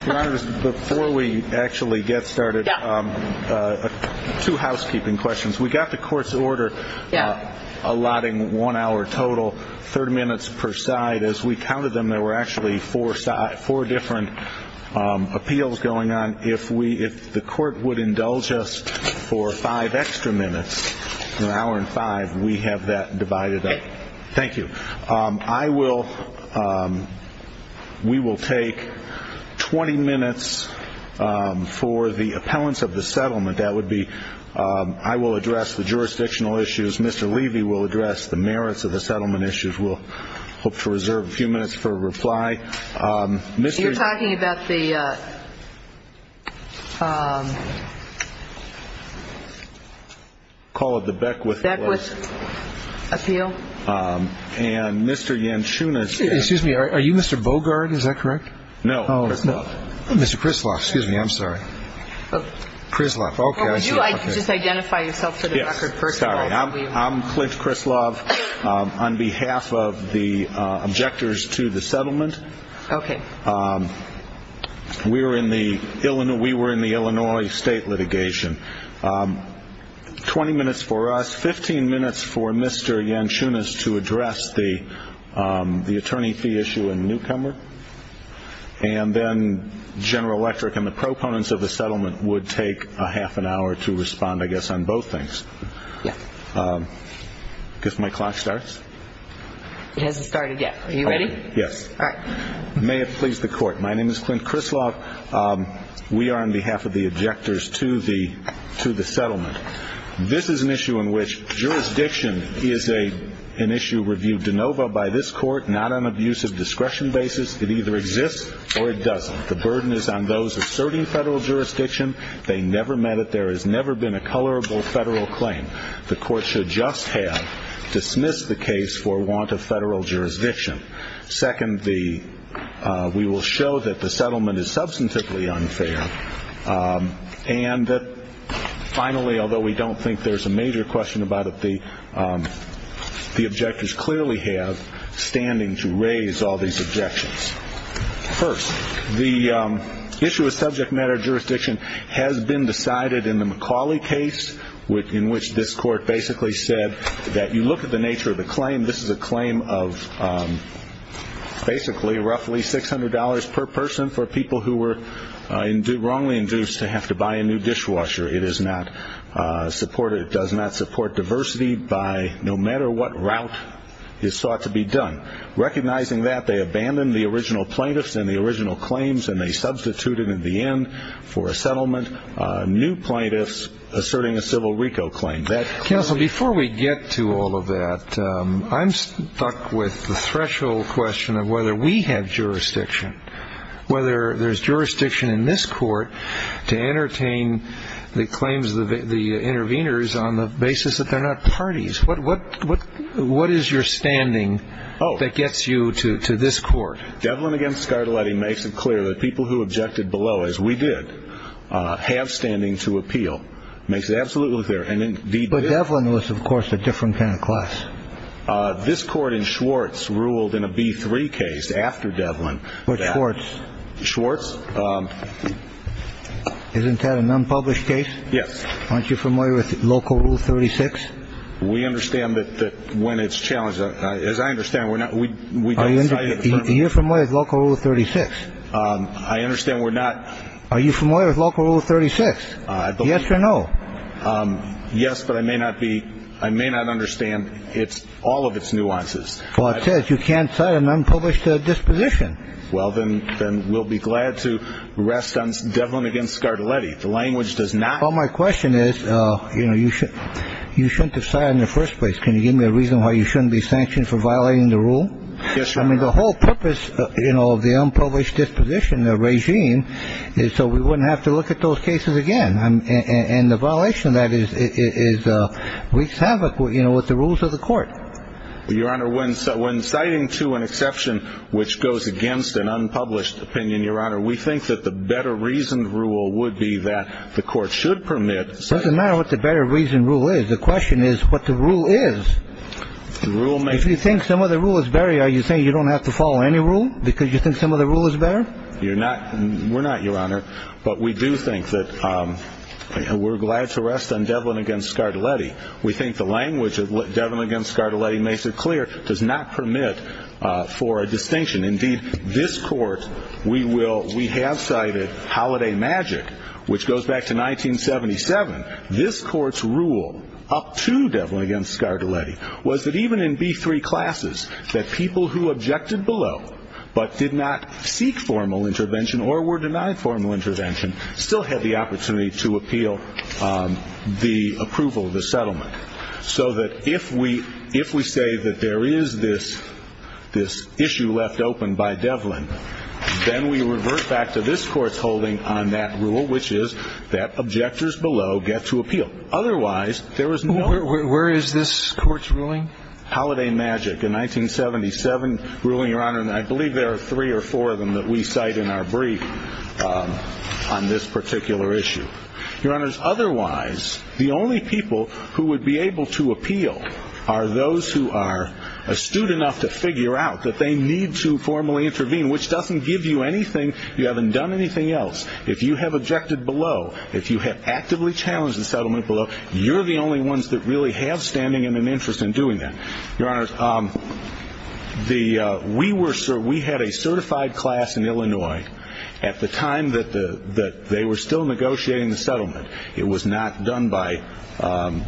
Before we actually get started, two housekeeping questions. We got the court's order allotting one hour total, 30 minutes per side. As we counted them, there were actually four different appeals going on. If the court would indulge us for five extra minutes, an hour and five, we have that divided up. Thank you. We will take 20 minutes for the appellants of the settlement. I will address the jurisdictional issues. Mr. Levy will address the merits of the settlement issues. We'll hope to reserve a few minutes for a reply. You're talking about the... Call it the Beckwith Appeal. And Mr. Yanchunas... Excuse me, are you Mr. Bogard, is that correct? No, Krislav. Mr. Krislav, excuse me, I'm sorry. Krislav, okay. Would you like to just identify yourself for the record, first of all? I'm Clint Krislav. On behalf of the objectors to the settlement, we were in the Illinois state litigation. 20 minutes for us, 15 minutes for Mr. Yanchunas to address the attorney fee issue in Newcomer. And then General Electric and the proponents of the settlement would take a half an hour to respond, I guess, on both things. Yes. I guess my clock starts? It hasn't started yet. Are you ready? Yes. All right. May it please the Court. My name is Clint Krislav. We are on behalf of the objectors to the settlement. This is an issue in which jurisdiction is an issue reviewed de novo by this Court, not on abuse of discretion basis. It either exists or it doesn't. The burden is on those asserting federal jurisdiction. They never met it. There has never been a colorable federal claim. The Court should just have dismissed the case for want of federal jurisdiction. Second, we will show that the settlement is substantively unfair. And finally, although we don't think there's a major question about it, the objectors clearly have standing to raise all these objections. First, the issue of subject matter jurisdiction has been decided in the McCauley case, in which this Court basically said that you look at the nature of the claim. This is a claim of basically roughly $600 per person for people who were wrongly induced to have to buy a new dishwasher. It does not support diversity by no matter what route is thought to be done. Recognizing that, they abandoned the original plaintiffs and the original claims, and they substituted in the end for a settlement new plaintiffs asserting a civil RICO claim. Counsel, before we get to all of that, I'm stuck with the threshold question of whether we have jurisdiction, whether there's jurisdiction in this Court to entertain the claims of the interveners on the basis that they're not parties. What is your standing that gets you to this Court? Devlin against Scardelletti makes it clear that people who objected below, as we did, have standing to appeal. Makes it absolutely clear. But Devlin was, of course, a different kind of class. This Court in Schwartz ruled in a B3 case after Devlin. Which Schwartz? Schwartz. Isn't that an unpublished case? Yes. Aren't you familiar with Local Rule 36? We understand that when it's challenged, as I understand, we don't cite it. Are you familiar with Local Rule 36? I understand we're not. Are you familiar with Local Rule 36? Yes or no? Yes, but I may not understand all of its nuances. Well, it says you can't cite an unpublished disposition. Well, then we'll be glad to rest on Devlin against Scardelletti. The language does not. Well, my question is, you know, you shouldn't have cited it in the first place. Can you give me a reason why you shouldn't be sanctioned for violating the rule? Yes, Your Honor. I mean, the whole purpose, you know, of the unpublished disposition, the regime, is so we wouldn't have to look at those cases again. And the violation of that is wreaks havoc, you know, with the rules of the Court. Your Honor, when citing to an exception which goes against an unpublished opinion, Your Honor, we think that the better-reasoned rule would be that the Court should permit. It doesn't matter what the better-reasoned rule is. The question is what the rule is. If you think some of the rule is better, are you saying you don't have to follow any rule because you think some of the rule is better? We're not, Your Honor. But we do think that we're glad to rest on Devlin against Scardelletti. We think the language of Devlin against Scardelletti makes it clear, does not permit for a distinction. Indeed, this Court, we have cited Holiday Magic, which goes back to 1977. This Court's rule up to Devlin against Scardelletti was that even in B-3 classes, that people who objected below but did not seek formal intervention or were denied formal intervention still had the opportunity to appeal the approval of the settlement. So that if we say that there is this issue left open by Devlin, then we revert back to this Court's holding on that rule, which is that objectors below get to appeal. Otherwise, there is no— Where is this Court's ruling? Holiday Magic, a 1977 ruling, Your Honor, and I believe there are three or four of them that we cite in our brief on this particular issue. Your Honors, otherwise, the only people who would be able to appeal are those who are astute enough to figure out that they need to formally intervene, which doesn't give you anything. You haven't done anything else. If you have objected below, if you have actively challenged the settlement below, you're the only ones that really have standing and an interest in doing that. Your Honors, we had a certified class in Illinois. At the time that they were still negotiating the settlement, it was not done by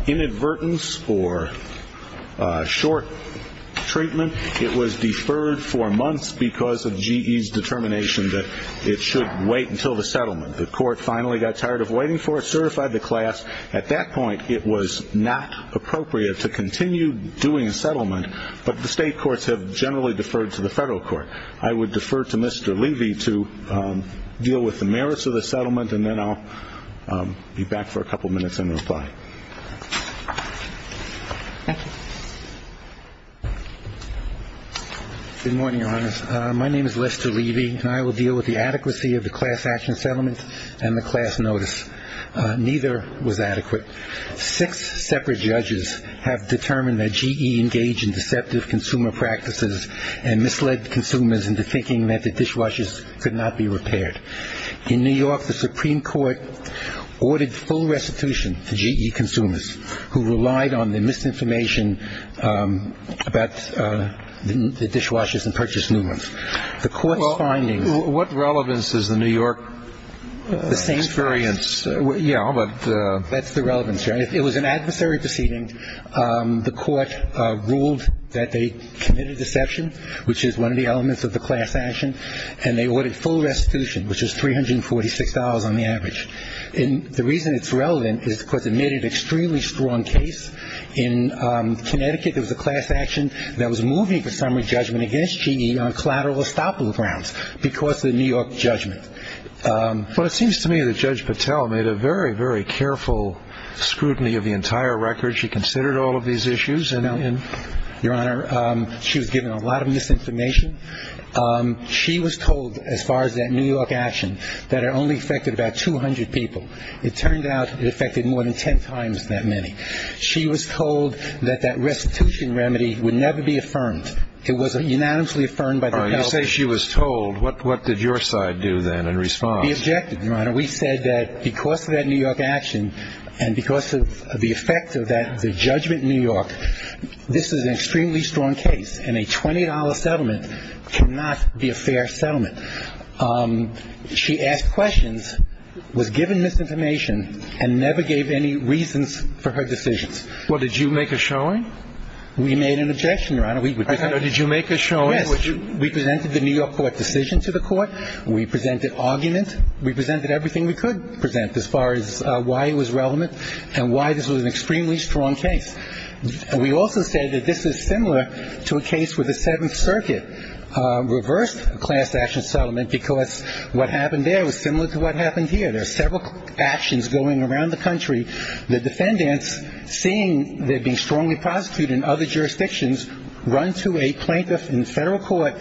inadvertence or short treatment. It was deferred for months because of GE's determination that it should wait until the settlement. The Court finally got tired of waiting for it, certified the class. At that point, it was not appropriate to continue doing a settlement, but the state courts have generally deferred to the federal court. I would defer to Mr. Levy to deal with the merits of the settlement, and then I'll be back for a couple minutes and reply. Thank you. Good morning, Your Honors. My name is Lester Levy, and I will deal with the adequacy of the class action settlement and the class notice. Neither was adequate. Six separate judges have determined that GE engaged in deceptive consumer practices and misled consumers into thinking that the dishwashers could not be repaired. In New York, the Supreme Court ordered full restitution to GE consumers who relied on the misinformation about the dishwashers and purchase movements. The Court's findings- Well, what relevance does the New York experience- The same- Yeah, but- That's the relevance. It was an adversary proceeding. The Court ruled that they committed deception, which is one of the elements of the class action, and they ordered full restitution, which is $346 on the average. And the reason it's relevant is because it made an extremely strong case. In Connecticut, there was a class action that was moving the summary judgment against GE on collateral estoppel grounds because of the New York judgment. Well, it seems to me that Judge Patel made a very, very careful scrutiny of the entire record. She considered all of these issues and- Your Honor, she was given a lot of misinformation. She was told, as far as that New York action, that it only affected about 200 people. It turned out it affected more than ten times that many. She was told that that restitution remedy would never be affirmed. It was unanimously affirmed by the- All right, you say she was told. We objected, Your Honor. We said that because of that New York action and because of the effect of that judgment in New York, this is an extremely strong case, and a $20 settlement cannot be a fair settlement. She asked questions, was given misinformation, and never gave any reasons for her decisions. Well, did you make a showing? We made an objection, Your Honor. Did you make a showing? Yes. We presented the New York court decision to the court. We presented argument. We presented everything we could present as far as why it was relevant and why this was an extremely strong case. We also say that this is similar to a case where the Seventh Circuit reversed a class action settlement because what happened there was similar to what happened here. There are several actions going around the country. The defendants, seeing they're being strongly prosecuted in other jurisdictions, run to a plaintiff in federal court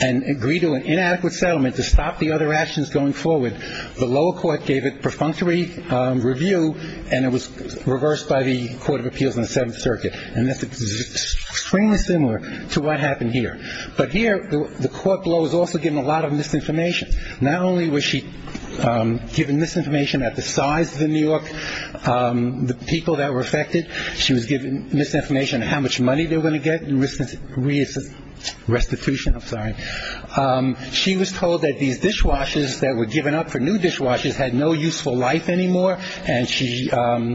and agree to an inadequate settlement to stop the other actions going forward. The lower court gave a perfunctory review, and it was reversed by the Court of Appeals in the Seventh Circuit. And this is extremely similar to what happened here. But here, the court below was also given a lot of misinformation. Not only was she given misinformation about the size of New York, the people that were affected. She was given misinformation on how much money they were going to get in restitution. I'm sorry. She was told that these dishwashers that were given up for new dishwashers had no useful life anymore, and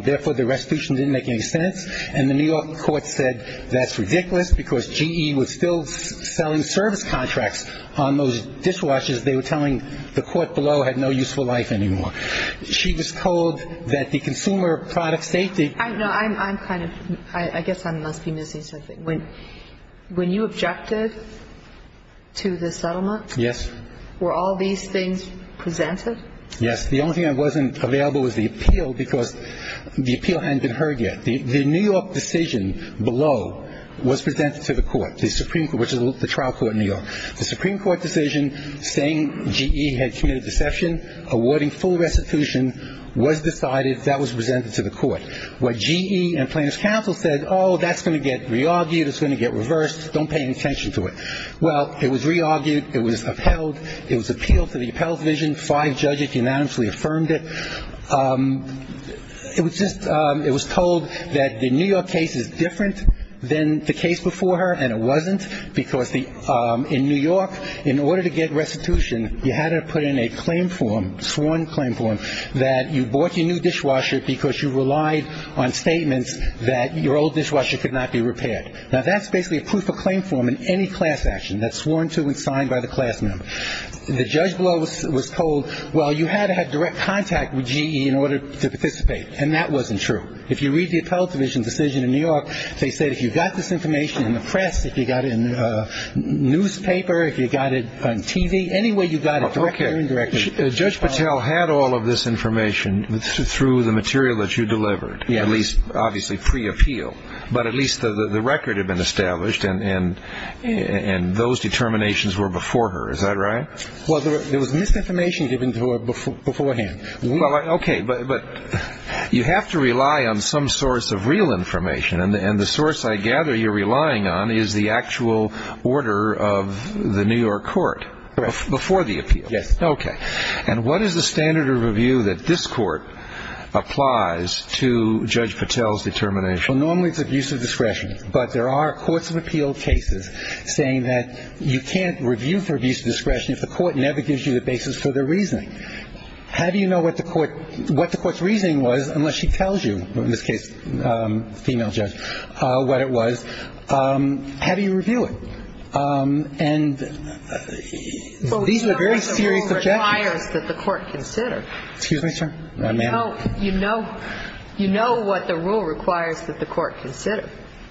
therefore the restitution didn't make any sense. And the New York court said that's ridiculous because GE was still selling service contracts on those dishwashers. They were telling the court below had no useful life anymore. She was told that the consumer product safety. I guess I must be missing something. When you objected to the settlement. Yes. Were all these things presented? Yes. The only thing that wasn't available was the appeal because the appeal hadn't been heard yet. The New York decision below was presented to the court, which is the trial court in New York. The Supreme Court decision saying GE had committed deception, awarding full restitution, was decided. That was presented to the court. What GE and plaintiff's counsel said, oh, that's going to get re-argued. It's going to get reversed. Don't pay any attention to it. Well, it was re-argued. It was upheld. It was appealed to the appellate division. Five judges unanimously affirmed it. It was just it was told that the New York case is different than the case before her, and it wasn't, because in New York, in order to get restitution, you had to put in a claim form, sworn claim form, that you bought your new dishwasher because you relied on statements that your old dishwasher could not be repaired. Now, that's basically a proof of claim form in any class action. That's sworn to and signed by the class member. The judge below was told, well, you had to have direct contact with GE in order to participate, and that wasn't true. If you read the appellate division's decision in New York, they said if you got this information in the press, if you got it in the newspaper, if you got it on TV, any way you got it, direct or indirect. Judge Patel had all of this information through the material that you delivered, at least obviously pre-appeal, but at least the record had been established, and those determinations were before her. Is that right? Well, there was misinformation given to her beforehand. Okay. But you have to rely on some source of real information, and the source I gather you're relying on is the actual order of the New York court before the appeal. Yes. Okay. And what is the standard of review that this court applies to Judge Patel's determination? Well, normally it's abuse of discretion, but there are courts of appeal cases saying that you can't review for abuse of discretion if the court never gives you the basis for their reasoning. How do you know what the court's reasoning was unless she tells you, in this case the female judge, what it was? How do you review it? And these are very serious objections. Well, you know what the rule requires that the court consider. Excuse me, sir? You know what the rule requires that the court consider.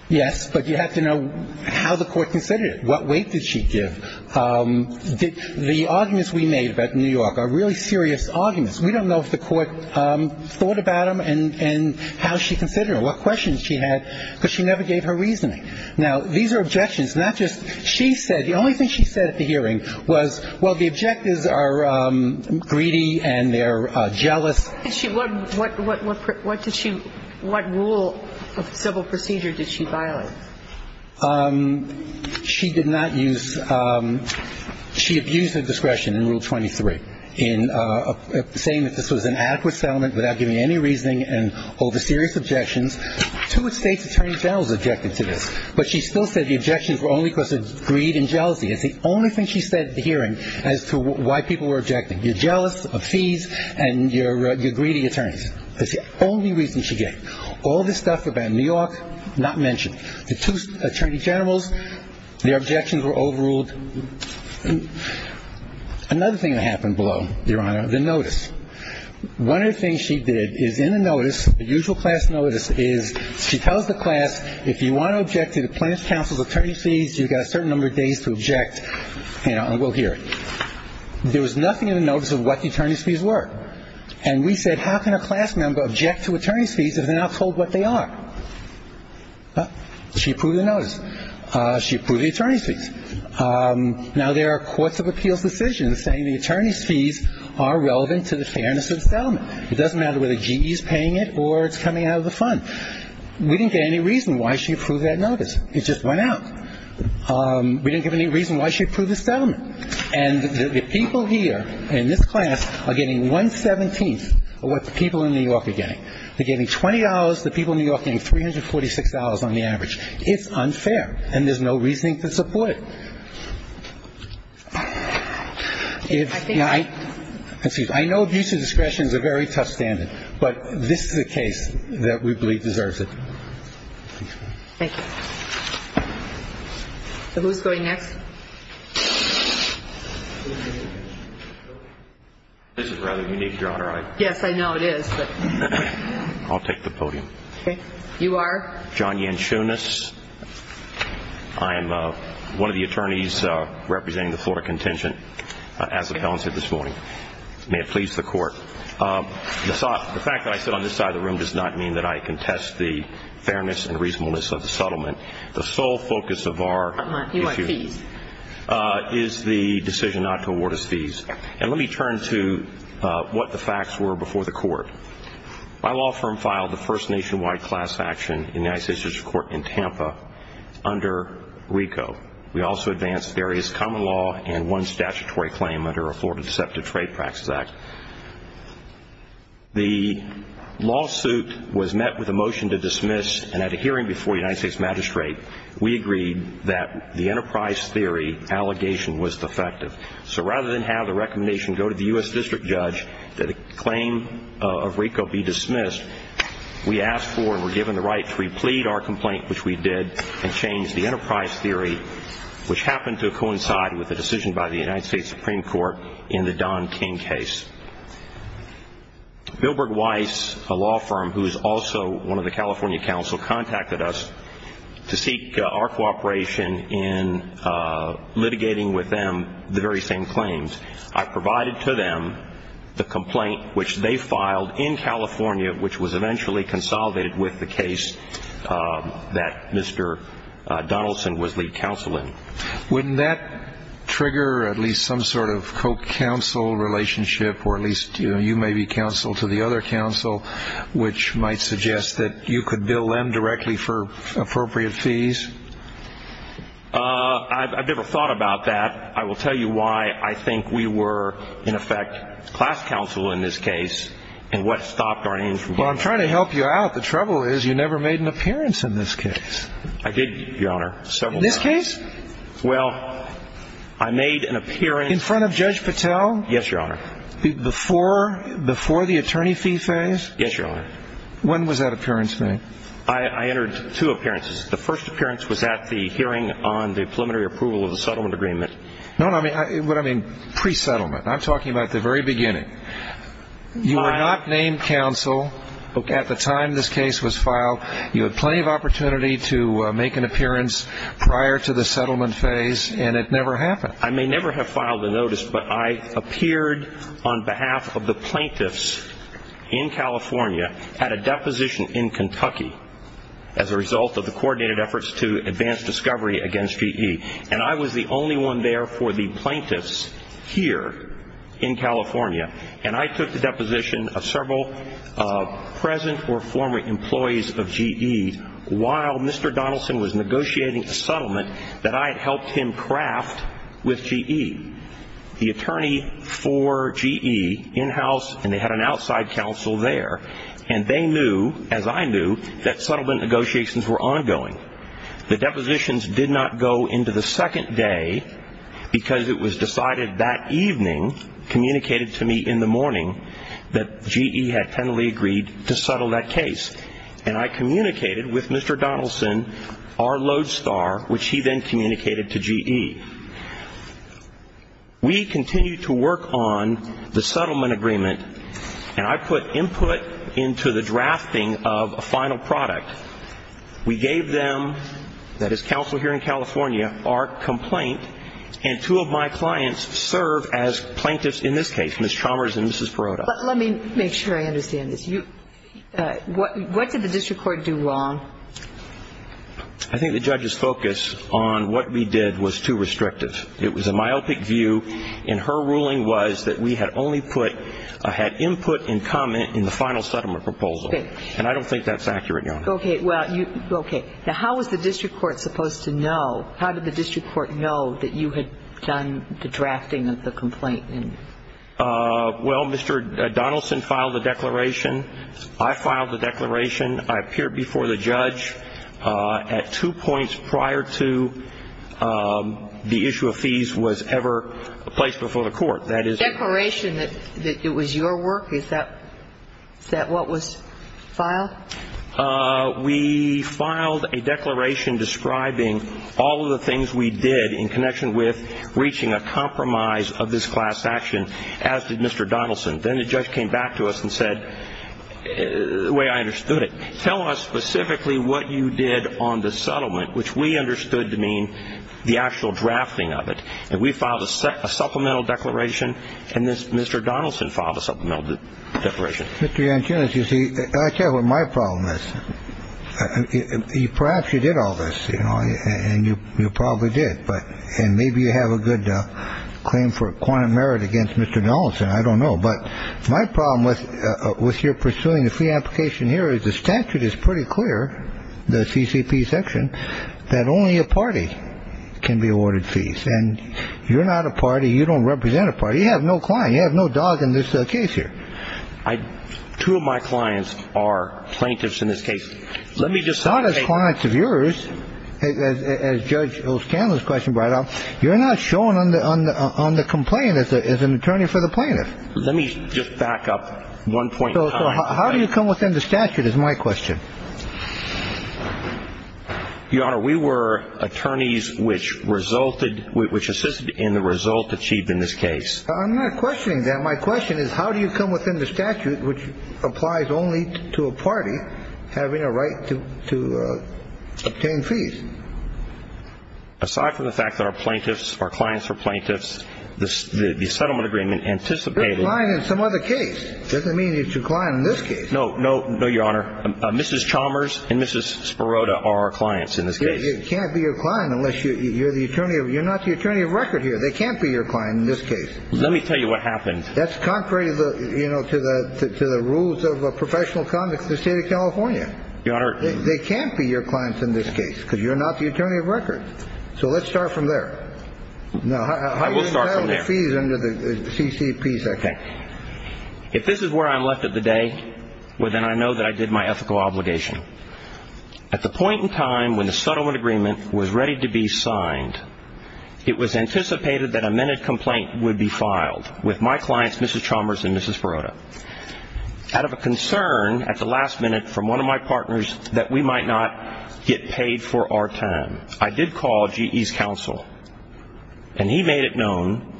Yes, but you have to know how the court considered it. What weight did she give? The arguments we made about New York are really serious arguments. We don't know if the court thought about them and how she considered them, what questions she had, because she never gave her reasoning. Now, these are objections, not just she said. The only thing she said at the hearing was, well, the objectives are greedy and they're jealous. What did she – what rule of civil procedure did she violate? She did not use – she abused her discretion in Rule 23 in saying that this was an adequate settlement without giving any reasoning and over serious objections. Two state's attorney generals objected to this, but she still said the objections were only because of greed and jealousy. It's the only thing she said at the hearing as to why people were objecting. You're jealous of fees and you're greedy attorneys. That's the only reason she gave. All this stuff about New York, not mentioned. The two attorney generals, their objections were overruled. Another thing that happened below, Your Honor, the notice. One of the things she did is in the notice, the usual class notice, is she tells the class if you want to object to the plaintiff's counsel's attorney's fees, you've got a certain number of days to object and we'll hear it. There was nothing in the notice of what the attorney's fees were. And we said, how can a class member object to attorney's fees if they're not told what they are? She approved the attorney's fees. Now, there are courts of appeals decisions saying the attorney's fees are relevant to the fairness of the settlement. It doesn't matter whether GE is paying it or it's coming out of the fund. We didn't get any reason why she approved that notice. It just went out. We didn't give any reason why she approved the settlement. And the people here in this class are getting one-seventeenth of what the people in New York are getting. They're getting $20. The people in New York are getting $346 on the average. It's unfair, and there's no reasoning to support it. I know abuse of discretion is a very tough standard, but this is a case that we believe deserves it. Thank you. So who's going next? This is rather unique, Your Honor. Yes, I know it is. I'll take the podium. Okay. You are? I am. I'm John Yanchunas. I am one of the attorneys representing the Florida Contingent, as the felon said this morning. May it please the Court. The fact that I sit on this side of the room does not mean that I contest the fairness and reasonableness of the settlement. The sole focus of our issue is the decision not to award us fees. And let me turn to what the facts were before the Court. My law firm filed the first nationwide class action in the United States District Court in Tampa under RICO. We also advanced various common law and one statutory claim under a Florida Deceptive Trade Practices Act. The lawsuit was met with a motion to dismiss, and at a hearing before the United States Magistrate, we agreed that the enterprise theory allegation was defective. So rather than have the recommendation go to the U.S. District Judge that a claim of RICO be dismissed, we asked for and were given the right to replead our complaint, which we did, and change the enterprise theory, which happened to coincide with a decision by the United States Supreme Court in the Don King case. Bilberg Weiss, a law firm who is also one of the California counsel, contacted us to seek our cooperation in litigating with them the very same claims. I provided to them the complaint, which they filed in California, which was eventually consolidated with the case that Mr. Donaldson was lead counsel in. Wouldn't that trigger at least some sort of co-counsel relationship, or at least you may be counsel to the other counsel, which might suggest that you could bill them directly for appropriate fees? I've never thought about that. I will tell you why I think we were, in effect, class counsel in this case, and what stopped our aim from going forward. Well, I'm trying to help you out. The trouble is you never made an appearance in this case. I did, Your Honor, several times. In this case? Well, I made an appearance. In front of Judge Patel? Yes, Your Honor. Before the attorney fee phase? Yes, Your Honor. When was that appearance made? I entered two appearances. The first appearance was at the hearing on the preliminary approval of the settlement agreement. No, no, what I mean, pre-settlement. I'm talking about the very beginning. You were not named counsel at the time this case was filed. You had plenty of opportunity to make an appearance prior to the settlement phase, and it never happened. I may never have filed a notice, but I appeared on behalf of the plaintiffs in California, had a deposition in Kentucky as a result of the coordinated efforts to advance discovery against V.E., and I was the only one there for the plaintiffs here in California, and I took the deposition of several present or former employees of V.E. while Mr. Donaldson was negotiating a settlement that I had helped him craft with V.E. The attorney for V.E. in-house, and they had an outside counsel there, and they knew, as I knew, that settlement negotiations were ongoing. The depositions did not go into the second day because it was decided that evening, communicated to me in the morning, that V.E. had tenderly agreed to settle that case, and I communicated with Mr. Donaldson, our lodestar, which he then communicated to V.E. We continued to work on the settlement agreement, and I put input into the drafting of a final product. We gave them, that is counsel here in California, our complaint, and two of my clients serve as plaintiffs in this case, Ms. Chalmers and Mrs. Perrotta. But let me make sure I understand this. What did the district court do wrong? I think the judge's focus on what we did was too restrictive. It was a myopic view, and her ruling was that we had only put, had input and comment in the final settlement proposal, and I don't think that's accurate, Your Honor. Okay. Now, how was the district court supposed to know, how did the district court know that you had done the drafting of the complaint? Well, Mr. Donaldson filed the declaration. I filed the declaration. I appeared before the judge at two points prior to the issue of fees was ever placed before the court. Declaration that it was your work? Is that what was filed? We filed a declaration describing all of the things we did in connection with reaching a compromise of this class action, as did Mr. Donaldson. Then the judge came back to us and said, the way I understood it, tell us specifically what you did on the settlement, which we understood to mean the actual drafting of it. And we filed a supplemental declaration. And Mr. Donaldson filed a supplemental declaration. Mr. Yanchunas, you see, I tell you what my problem is. Perhaps you did all this, you know, and you probably did. And maybe you have a good claim for a quantum merit against Mr. Donaldson. I don't know. But my problem with your pursuing the fee application here is the statute is pretty clear, the CCP section, that only a party can be awarded fees. And you're not a party. You don't represent a party. You have no client. You have no dog in this case here. Two of my clients are plaintiffs in this case. Let me just say. Not as clients of yours, as Judge O'Scanlon's question brought up. You're not showing on the complaint as an attorney for the plaintiff. Let me just back up one point. So how do you come within the statute is my question. Your Honor, we were attorneys which resulted, which assisted in the result achieved in this case. I'm not questioning that. My question is how do you come within the statute which applies only to a party having a right to obtain fees? Aside from the fact that our plaintiffs, our clients are plaintiffs, the settlement agreement anticipated. You're a client in some other case. Doesn't mean you're a client in this case. No, no, no, Your Honor. Mrs. Chalmers and Mrs. Spirota are our clients in this case. They can't be your client unless you're the attorney. You're not the attorney of record here. They can't be your client in this case. Let me tell you what happened. That's contrary to the rules of professional conduct in the state of California. Your Honor. They can't be your clients in this case because you're not the attorney of record. So let's start from there. I will start from there. How do you settle the fees under the CCP section? Okay. If this is where I'm left at the day, well, then I know that I did my ethical obligation. At the point in time when the settlement agreement was ready to be signed, it was anticipated that a minute complaint would be filed with my clients, Mrs. Chalmers and Mrs. Spirota, out of a concern at the last minute from one of my partners that we might not get paid for our time. I did call GE's counsel, and he made it known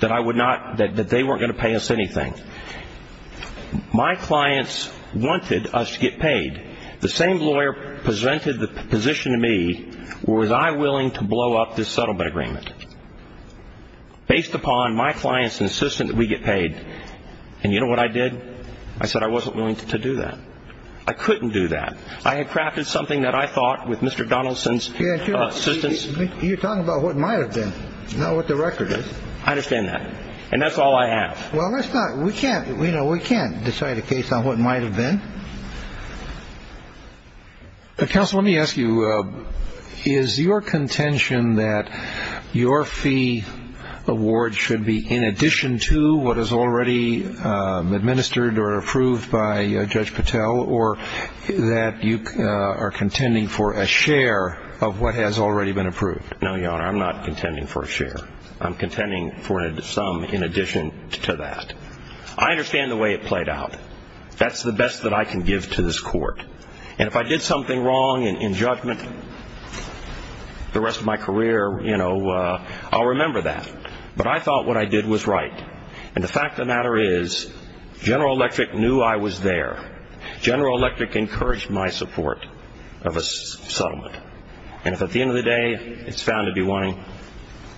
that they weren't going to pay us anything. My clients wanted us to get paid. The same lawyer presented the position to me, was I willing to blow up this settlement agreement? Based upon my client's insistence that we get paid, and you know what I did? I said I wasn't willing to do that. I couldn't do that. I had crafted something that I thought with Mr. Donaldson's assistance. You're talking about what might have been, not what the record is. I understand that, and that's all I have. Well, let's not. We can't decide a case on what might have been. Counsel, let me ask you, is your contention that your fee award should be in addition to what is already administered or approved by Judge Patel, or that you are contending for a share of what has already been approved? No, Your Honor, I'm not contending for a share. I'm contending for some in addition to that. I understand the way it played out. That's the best that I can give to this court. And if I did something wrong in judgment the rest of my career, you know, I'll remember that. But I thought what I did was right. And the fact of the matter is, General Electric knew I was there. General Electric encouraged my support of a settlement. And if at the end of the day it's found to be wanting to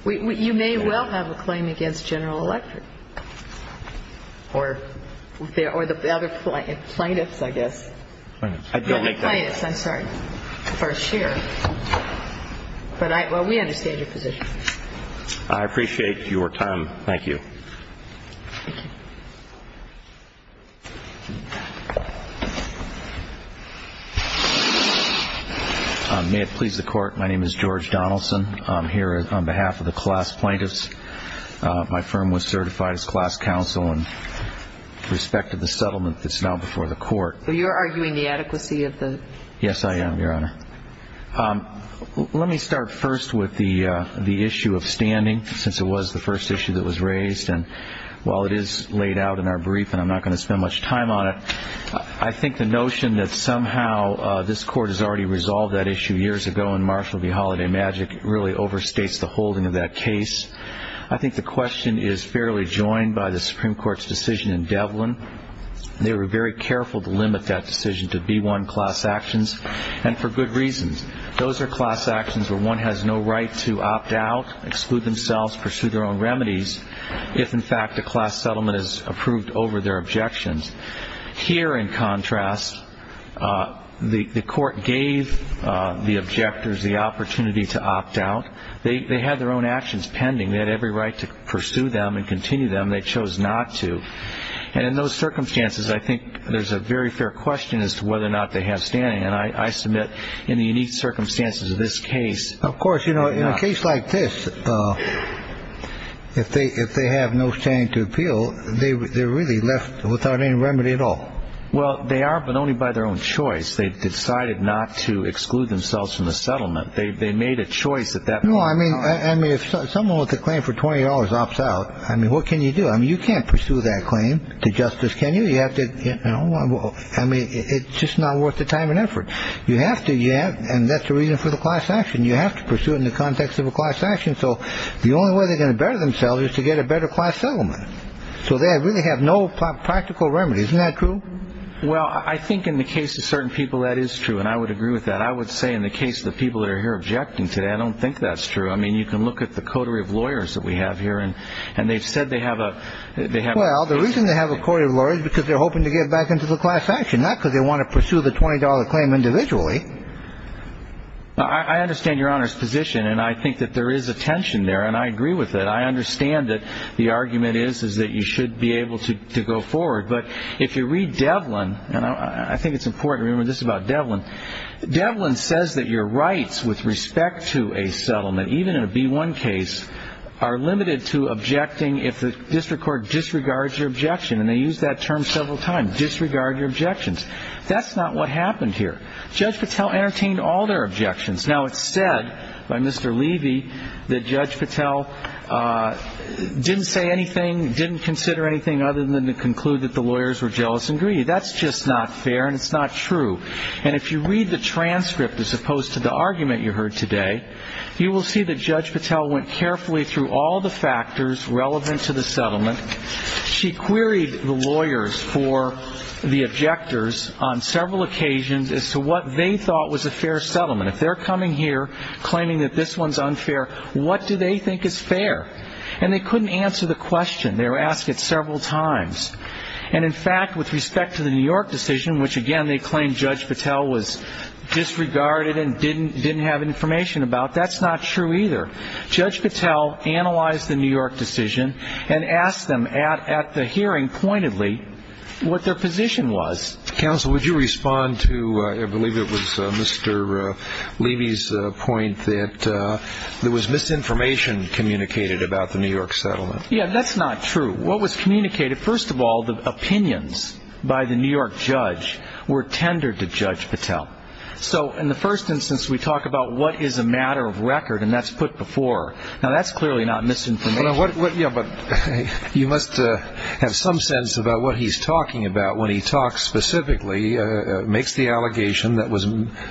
be removed. You may well have a claim against General Electric or the other plaintiffs, I guess. I don't make that claim. The plaintiffs, I'm sorry, for a share. But we understand your position. I appreciate your time. Thank you. Thank you. May it please the Court, my name is George Donaldson. I'm here on behalf of the class plaintiffs. My firm was certified as class counsel in respect to the settlement that's now before the court. So you're arguing the adequacy of the? Yes, I am, Your Honor. Let me start first with the issue of standing, since it was the first issue that was raised. And while it is laid out in our brief and I'm not going to spend much time on it, I think the notion that somehow this court has already resolved that issue years ago in Marshall v. Holiday Magic really overstates the holding of that case. I think the question is fairly joined by the Supreme Court's decision in Devlin. They were very careful to limit that decision to B-1 class actions. And for good reasons. Those are class actions where one has no right to opt out, exclude themselves, pursue their own remedies if, in fact, a class settlement is approved over their objections. Here, in contrast, the court gave the objectors the opportunity to opt out. They had their own actions pending. They had every right to pursue them and continue them. They chose not to. And in those circumstances, I think there's a very fair question as to whether or not they have standing. And I submit in the unique circumstances of this case. Of course, you know, in a case like this, if they have no standing to appeal, they're really left without any remedy at all. Well, they are, but only by their own choice. They've decided not to exclude themselves from the settlement. They made a choice at that point. No, I mean, if someone with a claim for $20 opts out, I mean, what can you do? I mean, you can't pursue that claim to justice, can you? I mean, it's just not worth the time and effort. You have to. And that's the reason for the class action. You have to pursue it in the context of a class action. So the only way they're going to better themselves is to get a better class settlement. So they really have no practical remedies. Isn't that true? Well, I think in the case of certain people, that is true, and I would agree with that. I would say in the case of the people that are here objecting today, I don't think that's true. I mean, you can look at the coterie of lawyers that we have here, and they've said they have a. Well, the reason they have a coterie of lawyers is because they're hoping to get back into the class action, not because they want to pursue the $20 claim individually. I understand Your Honor's position, and I think that there is a tension there, and I agree with it. I understand that the argument is that you should be able to go forward. But if you read Devlin, and I think it's important to remember this about Devlin, Devlin says that your rights with respect to a settlement, even in a B-1 case, are limited to objecting if the district court disregards your objection, and they use that term several times, disregard your objections. That's not what happened here. Judge Patel entertained all their objections. Now, it's said by Mr. Levy that Judge Patel didn't say anything, didn't consider anything other than to conclude that the lawyers were jealous and greedy. That's just not fair, and it's not true. And if you read the transcript as opposed to the argument you heard today, you will see that Judge Patel went carefully through all the factors relevant to the settlement. She queried the lawyers for the objectors on several occasions as to what they thought was a fair settlement. If they're coming here claiming that this one's unfair, what do they think is fair? And they couldn't answer the question. They were asked it several times. And, in fact, with respect to the New York decision, which, again, they claimed Judge Patel was disregarded and didn't have information about, that's not true either. Judge Patel analyzed the New York decision and asked them at the hearing pointedly what their position was. Counsel, would you respond to, I believe it was Mr. Levy's point, that there was misinformation communicated about the New York settlement? Yeah, that's not true. What was communicated? First of all, the opinions by the New York judge were tendered to Judge Patel. So in the first instance, we talk about what is a matter of record, and that's put before. Now, that's clearly not misinformation. But you must have some sense about what he's talking about when he talks specifically, makes the allegation that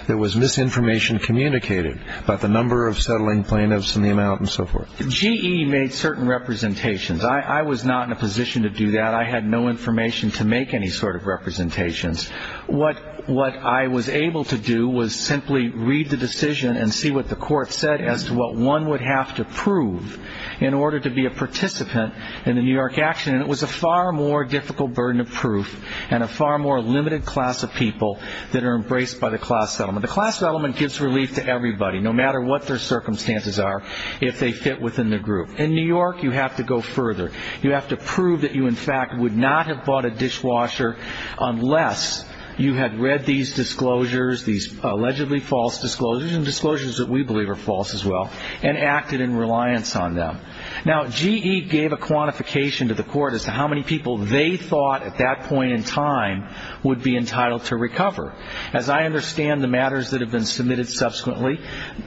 there was misinformation communicated about the number of settling plaintiffs and the amount and so forth. GE made certain representations. I was not in a position to do that. I had no information to make any sort of representations. What I was able to do was simply read the decision and see what the court said as to what one would have to prove in order to be a participant in the New York action. And it was a far more difficult burden of proof and a far more limited class of people that are embraced by the class settlement. The class settlement gives relief to everybody, no matter what their circumstances are, if they fit within the group. In New York, you have to go further. You have to prove that you, in fact, would not have bought a dishwasher unless you had read these disclosures, these allegedly false disclosures, and disclosures that we believe are false as well, and acted in reliance on them. Now, GE gave a quantification to the court as to how many people they thought at that point in time would be entitled to recover. As I understand the matters that have been submitted subsequently,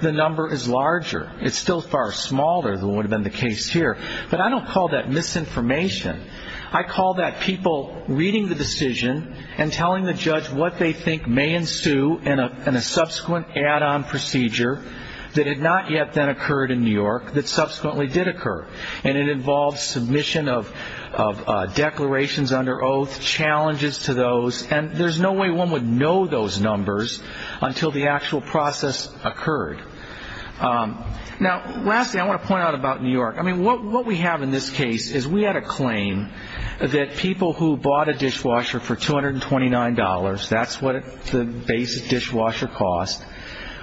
the number is larger. It's still far smaller than would have been the case here. But I don't call that misinformation. I call that people reading the decision and telling the judge what they think may ensue in a subsequent add-on procedure that had not yet then occurred in New York, that subsequently did occur. And it involves submission of declarations under oath, challenges to those, and there's no way one would know those numbers until the actual process occurred. Now, lastly, I want to point out about New York. I mean, what we have in this case is we had a claim that people who bought a dishwasher for $229, that's what the basic dishwasher cost,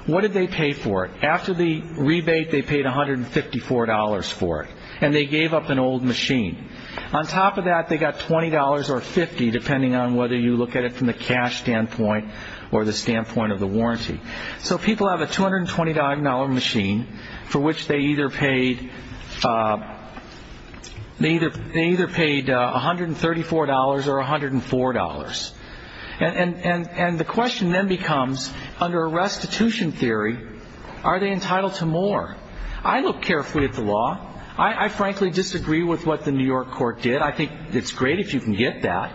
what did they pay for it? After the rebate, they paid $154 for it, and they gave up an old machine. On top of that, they got $20 or $50, depending on whether you look at it from the cash standpoint or the standpoint of the warranty. So people have a $229 machine for which they either paid $134 or $104. And the question then becomes, under a restitution theory, are they entitled to more? I look carefully at the law. I frankly disagree with what the New York court did. I think it's great if you can get that,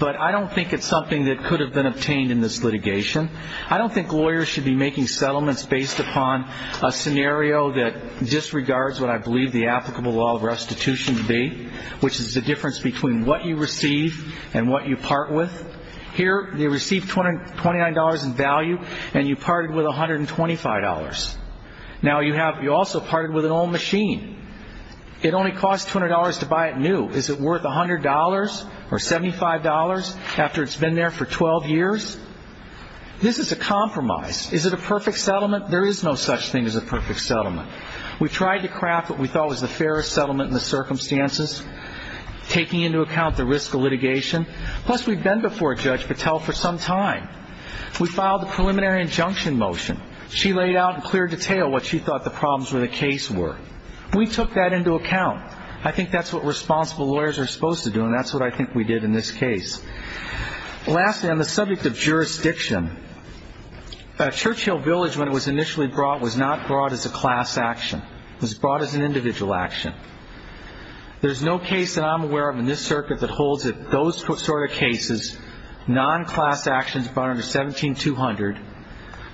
but I don't think it's something that could have been obtained in this litigation. I don't think lawyers should be making settlements based upon a scenario that disregards what I believe the applicable law of restitution to be, which is the difference between what you receive and what you part with. Here they received $229 in value, and you parted with $125. Now you also parted with an old machine. It only cost $200 to buy it new. Is it worth $100 or $75 after it's been there for 12 years? This is a compromise. Is it a perfect settlement? There is no such thing as a perfect settlement. We tried to craft what we thought was the fairest settlement in the circumstances, taking into account the risk of litigation. Plus, we've been before Judge Patel for some time. We filed the preliminary injunction motion. She laid out in clear detail what she thought the problems with the case were. We took that into account. I think that's what responsible lawyers are supposed to do, and that's what I think we did in this case. Lastly, on the subject of jurisdiction, Churchill Village, when it was initially brought, was not brought as a class action. It was brought as an individual action. There's no case that I'm aware of in this circuit that holds those sort of cases, non-class actions brought under 17-200,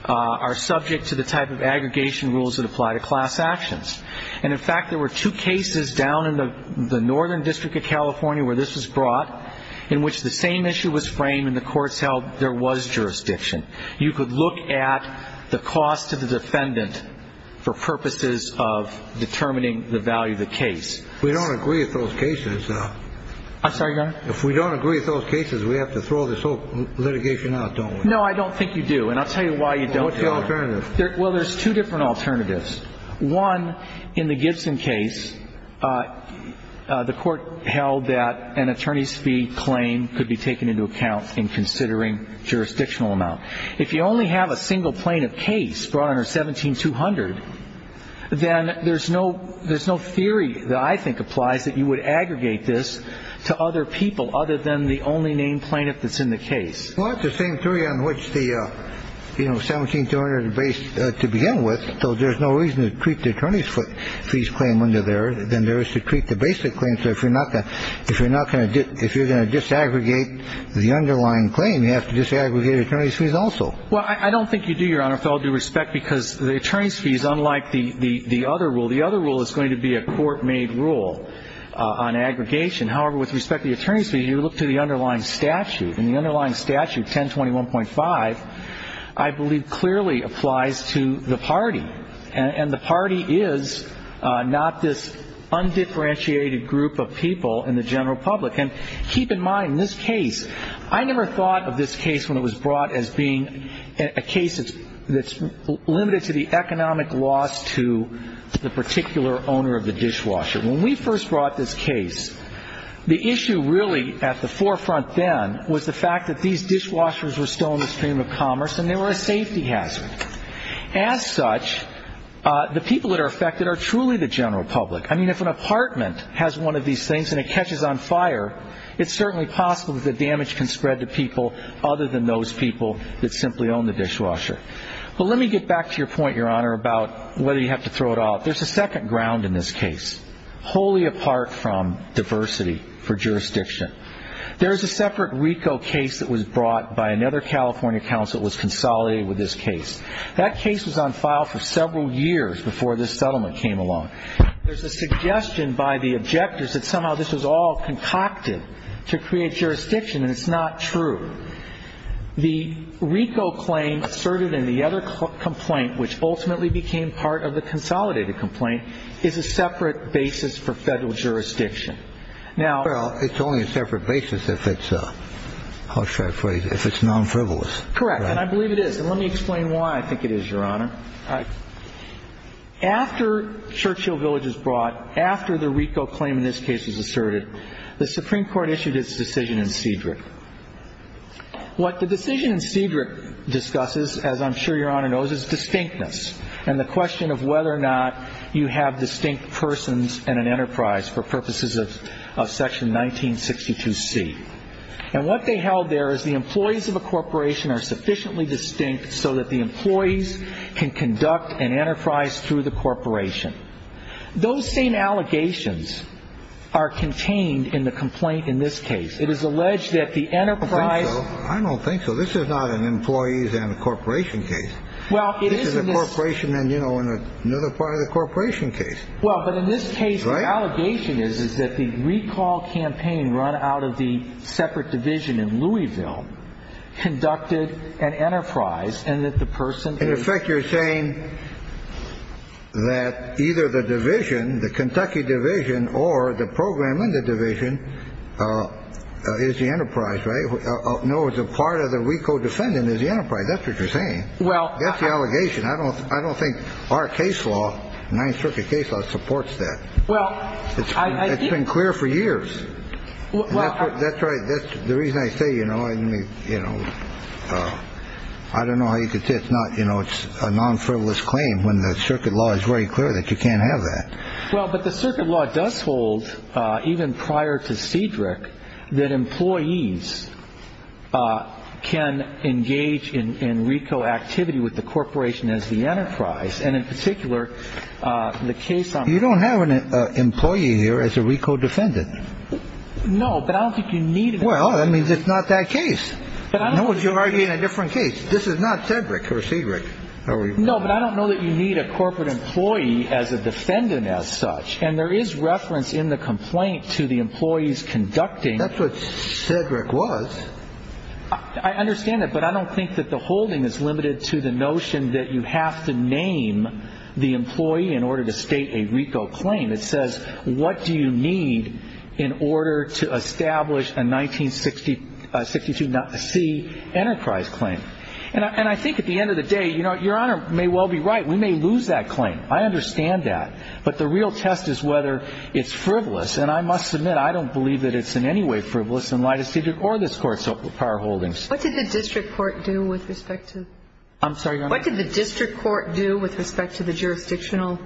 are subject to the type of aggregation rules that apply to class actions. And, in fact, there were two cases down in the Northern District of California where this was brought in which the same issue was framed and the courts held there was jurisdiction. You could look at the cost to the defendant for purposes of determining the value of the case. I'm sorry, Your Honor? If we don't agree with those cases, we have to throw this whole litigation out, don't we? No, I don't think you do, and I'll tell you why you don't. What's the alternative? Well, there's two different alternatives. One, in the Gibson case, the court held that an attorney's fee claim could be taken into account in considering jurisdictional amount. If you only have a single plaintiff case brought under 17-200, then there's no theory that I think applies that you would aggregate this to other people other than the only named plaintiff that's in the case. Well, it's the same theory on which the 17-200 is based to begin with, so there's no reason to treat the attorney's fees claim under there than there is to treat the basic claim. So if you're going to disaggregate the underlying claim, you have to disaggregate attorney's fees also. Well, I don't think you do, Your Honor, with all due respect, because the attorney's fee is unlike the other rule. The other rule is going to be a court-made rule on aggregation. However, with respect to the attorney's fee, you look to the underlying statute, and the underlying statute, 1021.5, I believe clearly applies to the party, and the party is not this undifferentiated group of people in the general public. And keep in mind, in this case, I never thought of this case when it was brought as being a case that's limited to the economic loss to the particular owner of the dishwasher. When we first brought this case, the issue really at the forefront then was the fact that these dishwashers were still in the stream of commerce and they were a safety hazard. As such, the people that are affected are truly the general public. I mean, if an apartment has one of these things and it catches on fire, it's certainly possible that the damage can spread to people other than those people that simply own the dishwasher. But let me get back to your point, Your Honor, about whether you have to throw it out. There's a second ground in this case, wholly apart from diversity for jurisdiction. There is a separate RICO case that was brought by another California counsel that was consolidated with this case. That case was on file for several years before this settlement came along. There's a suggestion by the objectors that somehow this was all concocted to create jurisdiction, and it's not true. The RICO claim asserted in the other complaint, which ultimately became part of the consolidated complaint, is a separate basis for federal jurisdiction. Well, it's only a separate basis if it's non-frivolous. Correct, and I believe it is. And let me explain why I think it is, Your Honor. After Churchill Village was brought, after the RICO claim in this case was asserted, the Supreme Court issued its decision in Cedric. What the decision in Cedric discusses, as I'm sure Your Honor knows, is distinctness and the question of whether or not you have distinct persons in an enterprise for purposes of Section 1962C. And what they held there is the employees of a corporation are sufficiently distinct so that the employees can conduct an enterprise through the corporation. Those same allegations are contained in the complaint in this case. It is alleged that the enterprise. I don't think so. This is not an employees and a corporation case. This is a corporation and, you know, another part of the corporation case. Well, but in this case, the allegation is that the recall campaign run out of the separate division in Louisville conducted an enterprise and that the person. In effect, you're saying that either the division, the Kentucky division, or the program in the division is the enterprise, right? No, it's a part of the RICO defendant is the enterprise. That's what you're saying. Well. That's the allegation. I don't think our case law, Ninth Circuit case law, supports that. Well, I think. It's been clear for years. Well, that's right. That's the reason I say, you know, you know, I don't know how you could say it's not. You know, it's a non-frivolous claim when the circuit law is very clear that you can't have that. Well, but the circuit law does hold even prior to Cedric that employees can engage in RICO activity with the corporation as the enterprise. And in particular, the case. You don't have an employee here as a RICO defendant. No, but I don't think you need. Well, I mean, it's not that case. But I know what you're arguing a different case. This is not Cedric or Cedric. No, but I don't know that you need a corporate employee as a defendant as such. And there is reference in the complaint to the employees conducting. That's what Cedric was. I understand that. But I don't think that the holding is limited to the notion that you have to name the employee in order to state a RICO claim. It says, what do you need in order to establish a 1962 C enterprise claim? And I think at the end of the day, you know, Your Honor may well be right. We may lose that claim. I understand that. But the real test is whether it's frivolous. And I must admit, I don't believe that it's in any way frivolous in light of Cedric or this Court's prior holdings. What did the district court do with respect to the jurisdictional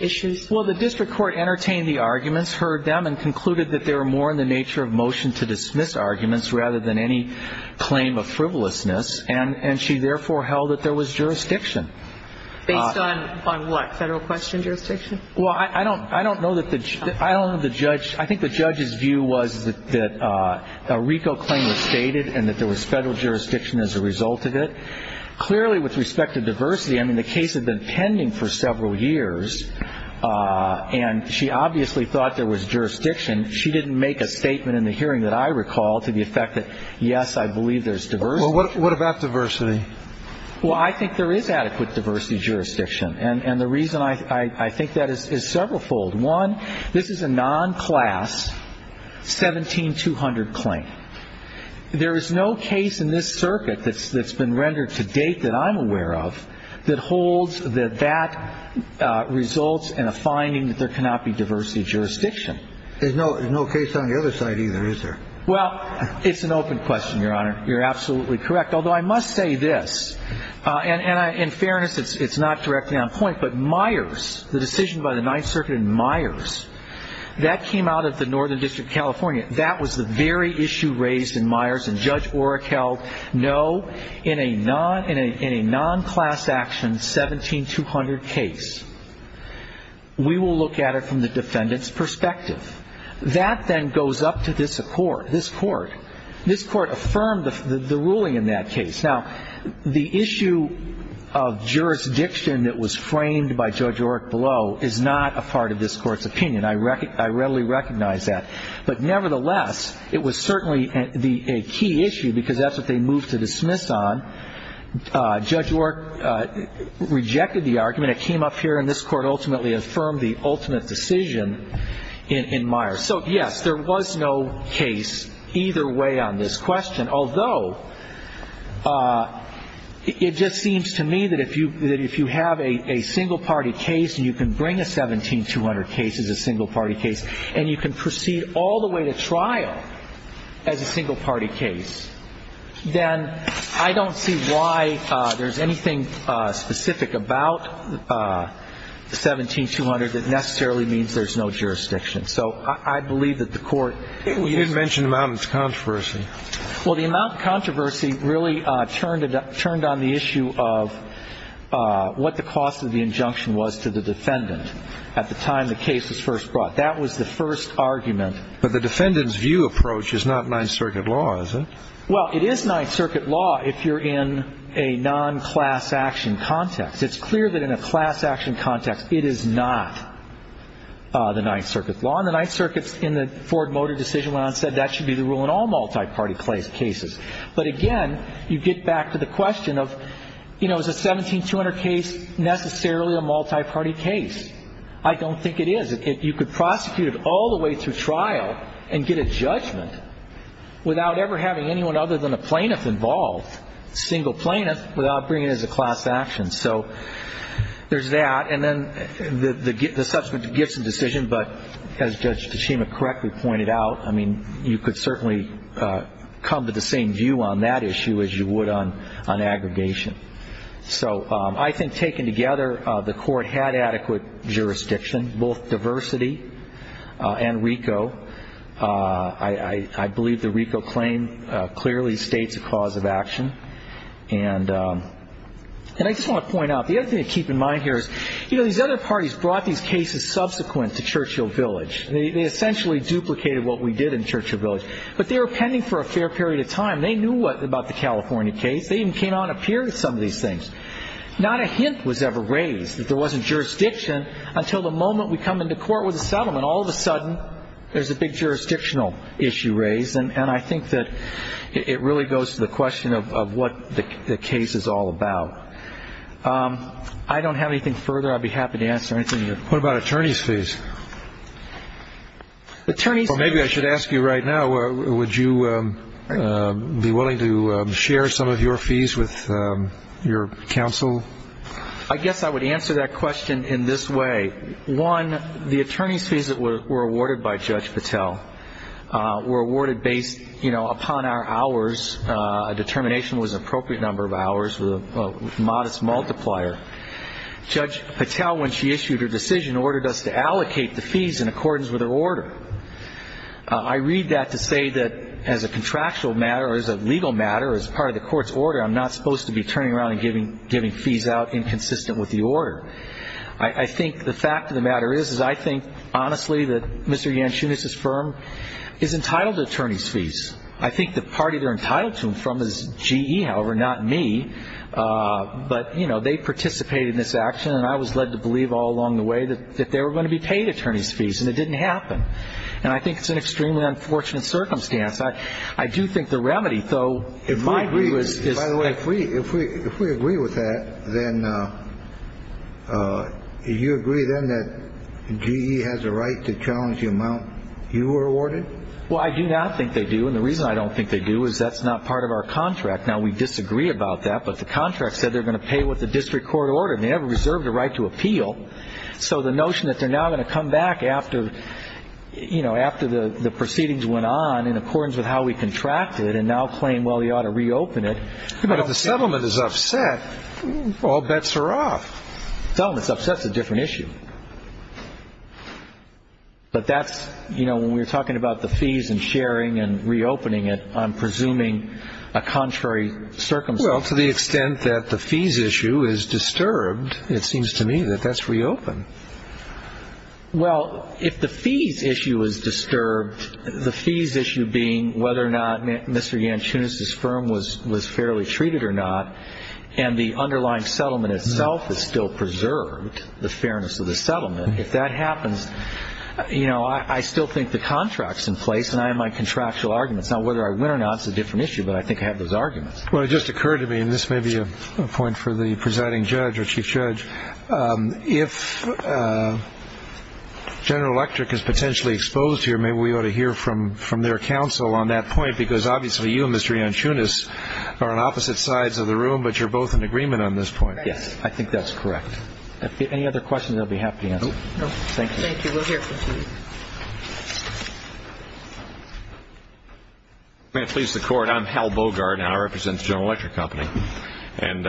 issues? Well, the district court entertained the arguments, heard them, and concluded that they were more in the nature of motion to dismiss arguments rather than any claim of frivolousness. And she therefore held that there was jurisdiction. Based on what? Federal question jurisdiction? Well, I don't know that the judge – I think the judge's view was that a RICO claim was stated and that there was federal jurisdiction as a result of it. Clearly, with respect to diversity, I mean, the case had been pending for several years, and she obviously thought there was jurisdiction. She didn't make a statement in the hearing that I recall to the effect that, yes, I believe there's diversity. Well, what about diversity? Well, I think there is adequate diversity jurisdiction. And the reason I think that is severalfold. One, this is a non-class 17200 claim. There is no case in this circuit that's been rendered to date that I'm aware of that holds that that results in a finding that there cannot be diversity jurisdiction. There's no case on the other side either, is there? Well, it's an open question, Your Honor. You're absolutely correct. Although I must say this, and in fairness it's not directly on point, but Myers, the decision by the Ninth Circuit in Myers, that came out of the Northern District of California. That was the very issue raised in Myers. And Judge Oreck held, no, in a non-class action 17200 case, we will look at it from the defendant's perspective. That then goes up to this court. This court affirmed the ruling in that case. Now, the issue of jurisdiction that was framed by Judge Oreck below is not a part of this court's opinion. I readily recognize that. But nevertheless, it was certainly a key issue because that's what they moved to dismiss on. Judge Oreck rejected the argument. It came up here, and this court ultimately affirmed the ultimate decision in Myers. So, yes, there was no case either way on this question, although it just seems to me that if you have a single-party case and you can bring a 17200 case as a single-party case and you can proceed all the way to trial as a single-party case, then I don't see why there's anything specific about the 17200 that necessarily means there's no jurisdiction. So I believe that the court used it. You did mention the amount of controversy. Well, the amount of controversy really turned on the issue of what the cost of the injunction was to the defendant at the time the case was first brought. That was the first argument. But the defendant's view approach is not Ninth Circuit law, is it? Well, it is Ninth Circuit law if you're in a non-class action context. It's clear that in a class action context it is not the Ninth Circuit law. And the Ninth Circuit, in the Ford Motor decision, went on to say that should be the rule in all multi-party cases. But, again, you get back to the question of, you know, is a 17200 case necessarily a multi-party case? I don't think it is. You could prosecute it all the way through trial and get a judgment without ever having anyone other than a plaintiff involved, a single plaintiff, without bringing it as a class action. So there's that. And then the subsequent gifts and decision, but as Judge Tachima correctly pointed out, I mean, you could certainly come to the same view on that issue as you would on aggregation. So I think taken together, the Court had adequate jurisdiction, both diversity and RICO. I believe the RICO claim clearly states a cause of action. And I just want to point out, the other thing to keep in mind here is, you know, these other parties brought these cases subsequent to Churchill Village. They essentially duplicated what we did in Churchill Village. But they were pending for a fair period of time. They knew about the California case. They even came on up here to some of these things. Not a hint was ever raised that there wasn't jurisdiction until the moment we come into court with a settlement. All of a sudden, there's a big jurisdictional issue raised. And I think that it really goes to the question of what the case is all about. I don't have anything further. I'd be happy to answer anything you have. What about attorney's fees? Maybe I should ask you right now, would you be willing to share some of your fees with your counsel? I guess I would answer that question in this way. One, the attorney's fees that were awarded by Judge Patel were awarded based, you know, upon our hours. A determination was an appropriate number of hours with a modest multiplier. Judge Patel, when she issued her decision, ordered us to allocate the fees in accordance with her order. I read that to say that as a contractual matter or as a legal matter or as part of the court's order, I'm not supposed to be turning around and giving fees out inconsistent with the order. I think the fact of the matter is, is I think, honestly, that Mr. Yanchunis's firm is entitled to attorney's fees. I think the party they're entitled to them from is GE, however, not me. But, you know, they participated in this action, and I was led to believe all along the way that they were going to be paid attorney's fees, and it didn't happen. And I think it's an extremely unfortunate circumstance. I do think the remedy, though, in my view is... By the way, if we agree with that, then you agree then that GE has a right to challenge the amount you were awarded? Well, I do not think they do, and the reason I don't think they do is that's not part of our contract. Now, we disagree about that, but the contract said they're going to pay with the district court order, and they have a reserve of the right to appeal. So the notion that they're now going to come back after, you know, after the proceedings went on, in accordance with how we contracted, and now claim, well, you ought to reopen it... But if the settlement is upset, all bets are off. If the settlement's upset, it's a different issue. But that's, you know, when we're talking about the fees and sharing and reopening it, I'm presuming a contrary circumstance. Well, to the extent that the fees issue is disturbed, it seems to me that that's reopened. Well, if the fees issue is disturbed, the fees issue being whether or not Mr. Yanchunis' firm was fairly treated or not, and the underlying settlement itself is still preserved, the fairness of the settlement, if that happens, you know, I still think the contract's in place, and I have my contractual arguments. Now, whether I win or not is a different issue, but I think I have those arguments. Well, it just occurred to me, and this may be a point for the presiding judge or chief judge, if General Electric is potentially exposed here, maybe we ought to hear from their counsel on that point, because obviously you and Mr. Yanchunis are on opposite sides of the room, but you're both in agreement on this point. Yes, I think that's correct. Any other questions, I'll be happy to answer. No, thank you. Thank you. We'll hear from you. May it please the Court, I'm Hal Bogart, and I represent the General Electric Company. And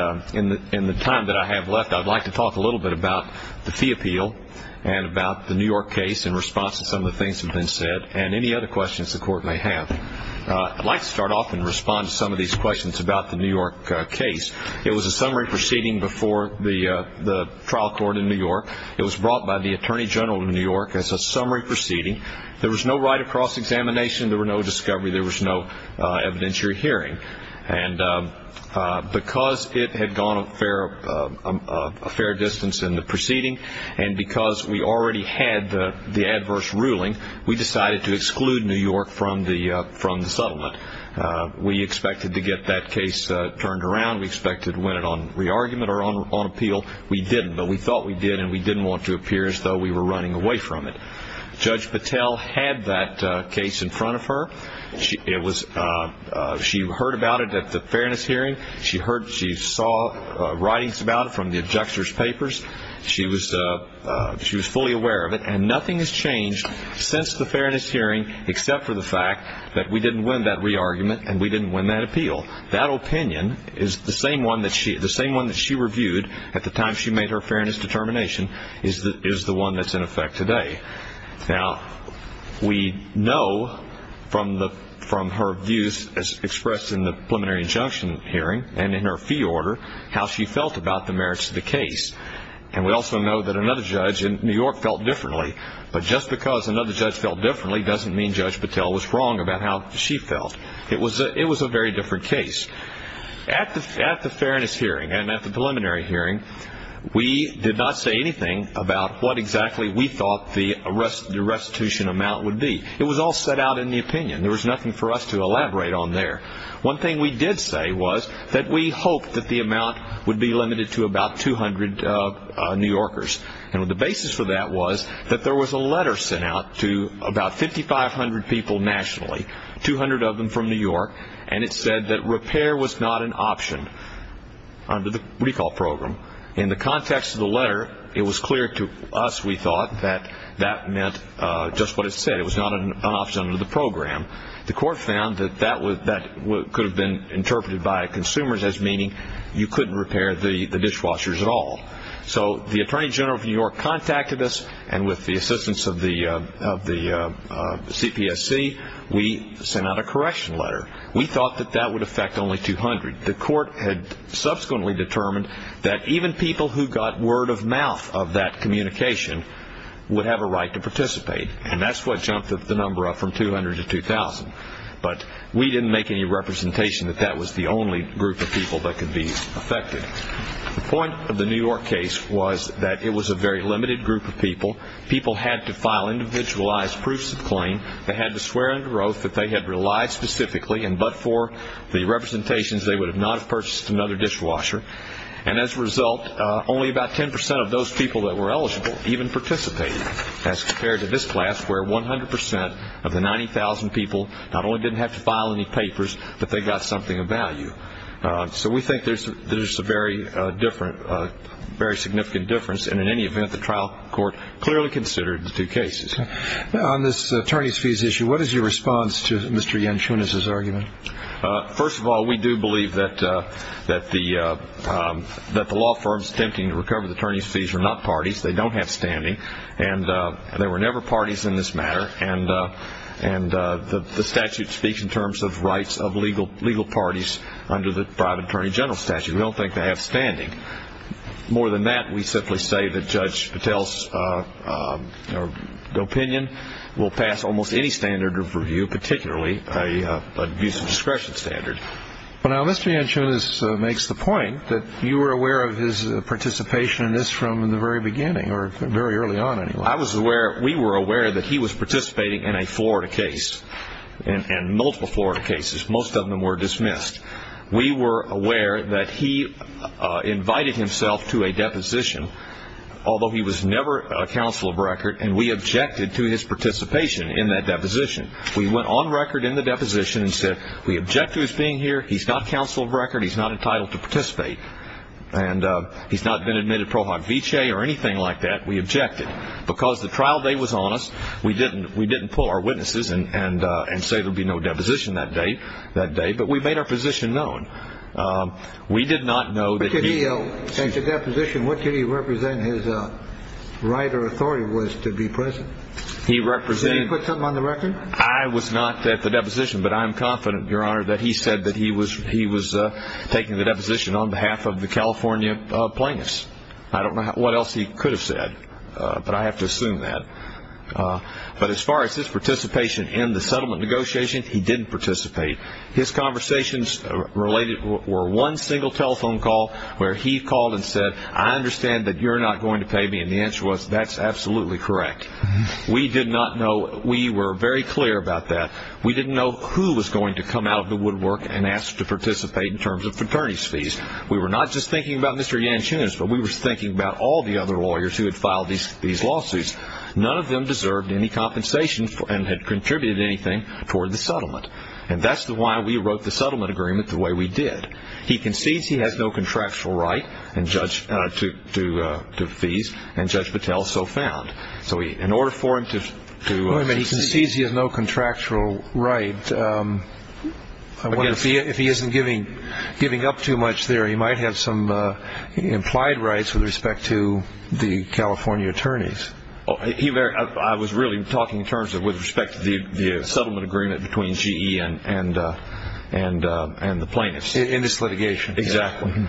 in the time that I have left, I'd like to talk a little bit about the fee appeal and about the New York case in response to some of the things that have been said, and any other questions the Court may have. I'd like to start off and respond to some of these questions about the New York case. It was a summary proceeding before the trial court in New York. It was brought by the Attorney General of New York as a summary proceeding. There was no right of cross-examination. There was no discovery. There was no evidentiary hearing. And because it had gone a fair distance in the proceeding, and because we already had the adverse ruling, we decided to exclude New York from the settlement. We expected to get that case turned around. We expected to win it on re-argument or on appeal. We didn't, but we thought we did, and we didn't want to appear as though we were running away from it. Judge Patel had that case in front of her. She heard about it at the fairness hearing. She saw writings about it from the abjector's papers. She was fully aware of it. And nothing has changed since the fairness hearing except for the fact that we didn't win that re-argument and we didn't win that appeal. That opinion is the same one that she reviewed at the time she made her fairness determination is the one that's in effect today. Now, we know from her views as expressed in the preliminary injunction hearing and in her fee order how she felt about the merits of the case. And we also know that another judge in New York felt differently. But just because another judge felt differently doesn't mean Judge Patel was wrong about how she felt. It was a very different case. At the fairness hearing and at the preliminary hearing, we did not say anything about what exactly we thought the restitution amount would be. It was all set out in the opinion. There was nothing for us to elaborate on there. One thing we did say was that we hoped that the amount would be limited to about 200 New Yorkers. And the basis for that was that there was a letter sent out to about 5,500 people nationally, 200 of them from New York, and it said that repair was not an option under the recall program. In the context of the letter, it was clear to us, we thought, that that meant just what it said. It was not an option under the program. The court found that that could have been interpreted by consumers as meaning you couldn't repair the dishwashers at all. So the Attorney General of New York contacted us, and with the assistance of the CPSC, we sent out a correction letter. We thought that that would affect only 200. The court had subsequently determined that even people who got word of mouth of that communication would have a right to participate, and that's what jumped the number up from 200 to 2,000. But we didn't make any representation that that was the only group of people that could be affected. The point of the New York case was that it was a very limited group of people. People had to file individualized proofs of claim. They had to swear under oath that they had relied specifically, and but for the representations, they would not have purchased another dishwasher. And as a result, only about 10% of those people that were eligible even participated, as compared to this class where 100% of the 90,000 people not only didn't have to file any papers, but they got something of value. So we think there's a very significant difference, and in any event, the trial court clearly considered the two cases. On this attorney's fees issue, what is your response to Mr. Yanchunas' argument? First of all, we do believe that the law firm's attempting to recover the attorney's fees are not parties. They don't have standing, and there were never parties in this matter, and the statute speaks in terms of rights of legal parties under the private attorney general statute. We don't think they have standing. More than that, we simply say that Judge Patel's opinion will pass almost any standard of review, particularly an abuse of discretion standard. Now, Mr. Yanchunas makes the point that you were aware of his participation in this from the very beginning, or very early on, anyway. We were aware that he was participating in a Florida case, and multiple Florida cases. Most of them were dismissed. We were aware that he invited himself to a deposition, although he was never a counsel of record, and we objected to his participation in that deposition. We went on record in the deposition and said, we object to his being here, he's not counsel of record, he's not entitled to participate, and he's not been admitted pro hoc vicee or anything like that. We objected. Because the trial day was on us, we didn't pull our witnesses and say there would be no deposition that day, but we made our position known. We did not know that he... In the deposition, what did he represent his right or authority was to be present? He represented... Did he put something on the record? I was not at the deposition, but I am confident, Your Honor, that he said that he was taking the deposition on behalf of the California plaintiffs. I don't know what else he could have said, but I have to assume that. But as far as his participation in the settlement negotiations, he didn't participate. His conversations related were one single telephone call where he called and said, I understand that you're not going to pay me, and the answer was, that's absolutely correct. We did not know. We were very clear about that. We didn't know who was going to come out of the woodwork and ask to participate in terms of fraternity's fees. We were not just thinking about Mr. Yanchun's, but we were thinking about all the other lawyers who had filed these lawsuits. None of them deserved any compensation and had contributed anything toward the settlement. And that's why we wrote the settlement agreement the way we did. He concedes he has no contractual right to fees, and Judge Patel so found. So in order for him to... He concedes he has no contractual right. If he isn't giving up too much there, he might have some implied rights with respect to the California attorneys. I was really talking in terms of with respect to the settlement agreement between GE and the plaintiffs. In this litigation. Exactly.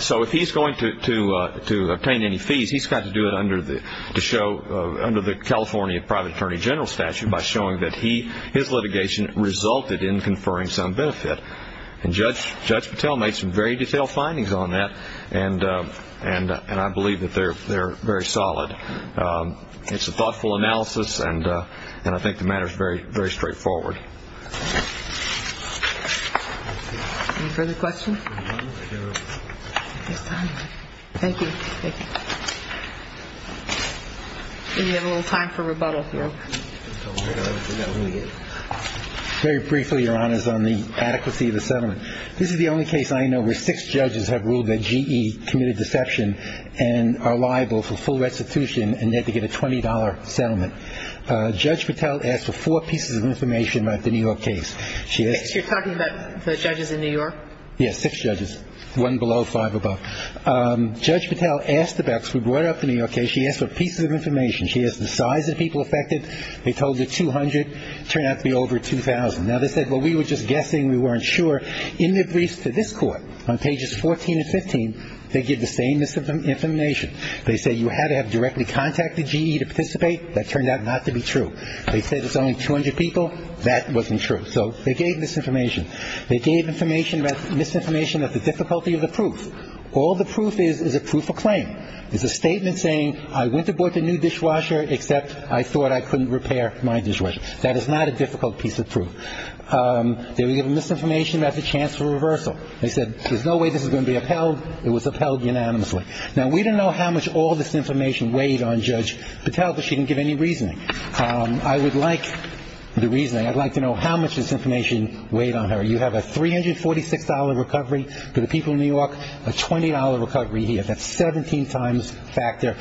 So if he's going to obtain any fees, he's got to do it under the California private attorney general statute by showing that his litigation resulted in conferring some benefit. And Judge Patel made some very detailed findings on that, and I believe that they're very solid. It's a thoughtful analysis, and I think the matter is very straightforward. Any further questions? Thank you. We have a little time for rebuttal here. Very briefly, Your Honors, on the adequacy of the settlement. This is the only case I know where six judges have ruled that GE committed deception and are liable for full restitution and yet to get a $20 settlement. Judge Patel asked for four pieces of information about the New York case. You're talking about the judges in New York? Yes, six judges, one below, five above. Judge Patel asked about this. We brought up the New York case. She asked for pieces of information. She asked the size of people affected. They told her 200. Turned out to be over 2,000. Now, they said, well, we were just guessing. We weren't sure. In their briefs to this Court on pages 14 and 15, they give the same information. They say you had to have directly contacted GE to participate. That turned out not to be true. They said it's only 200 people. That wasn't true. So they gave misinformation. They gave misinformation about the difficulty of the proof. All the proof is is a proof of claim. It's a statement saying I went to board the new dishwasher except I thought I couldn't repair my dishwasher. That is not a difficult piece of proof. They were given misinformation about the chance for reversal. They said there's no way this is going to be upheld. It was upheld unanimously. Now, we don't know how much all this information weighed on Judge Patel, but she didn't give any reasoning. I would like the reasoning. I'd like to know how much this information weighed on her. You have a $346 recovery for the people of New York, a $20 recovery here. That's 17 times factor.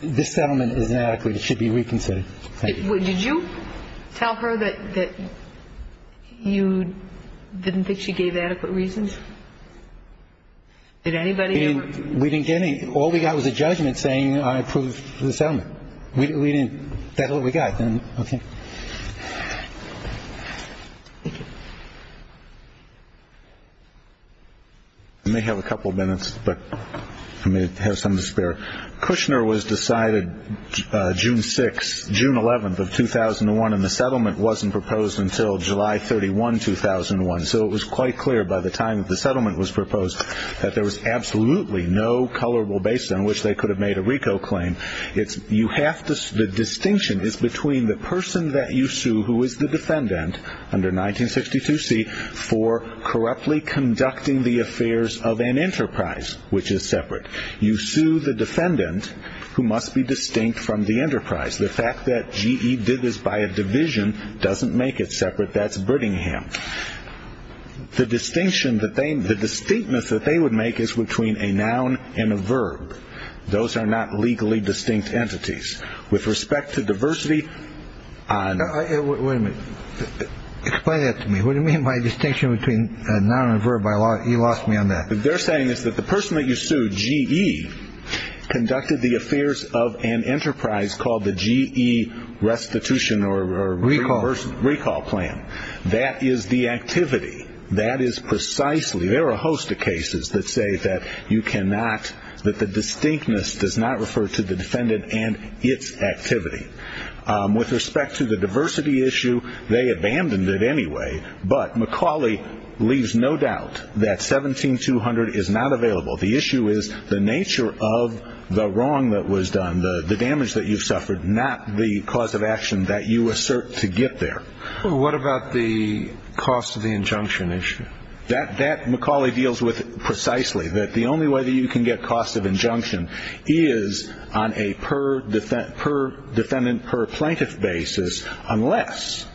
This settlement is inadequate. It should be reconsidered. Thank you. Did you tell her that you didn't think she gave adequate reasons? Did anybody? We didn't get any. All we got was a judgment saying I approved the settlement. We didn't. That's all we got. Okay. I may have a couple of minutes, but I may have some to spare. Kushner was decided June 6th, June 11th of 2001, and the settlement wasn't proposed until July 31, 2001. So it was quite clear by the time the settlement was proposed that there was absolutely no colorable base on which they could have made a RICO claim. The distinction is between the person that you sue who is the defendant under 1962C for corruptly conducting the affairs of an enterprise, which is separate. You sue the defendant who must be distinct from the enterprise. The fact that GE did this by a division doesn't make it separate. But that's Brittingham. The distinction, the distinctness that they would make is between a noun and a verb. Those are not legally distinct entities. With respect to diversity on. Wait a minute. Explain that to me. What do you mean by distinction between a noun and a verb? You lost me on that. What they're saying is that the person that you sued, GE, conducted the affairs of an enterprise called the GE restitution or recall plan. That is the activity. That is precisely. There are a host of cases that say that you cannot, that the distinctness does not refer to the defendant and its activity. With respect to the diversity issue, they abandoned it anyway. But Macaulay leaves no doubt that 17200 is not available. The issue is the nature of the wrong that was done, the damage that you've suffered, not the cause of action that you assert to get there. What about the cost of the injunction issue? That that Macaulay deals with precisely that the only way that you can get cost of injunction is on a per defendant, per defendant, per plaintiff basis. Unless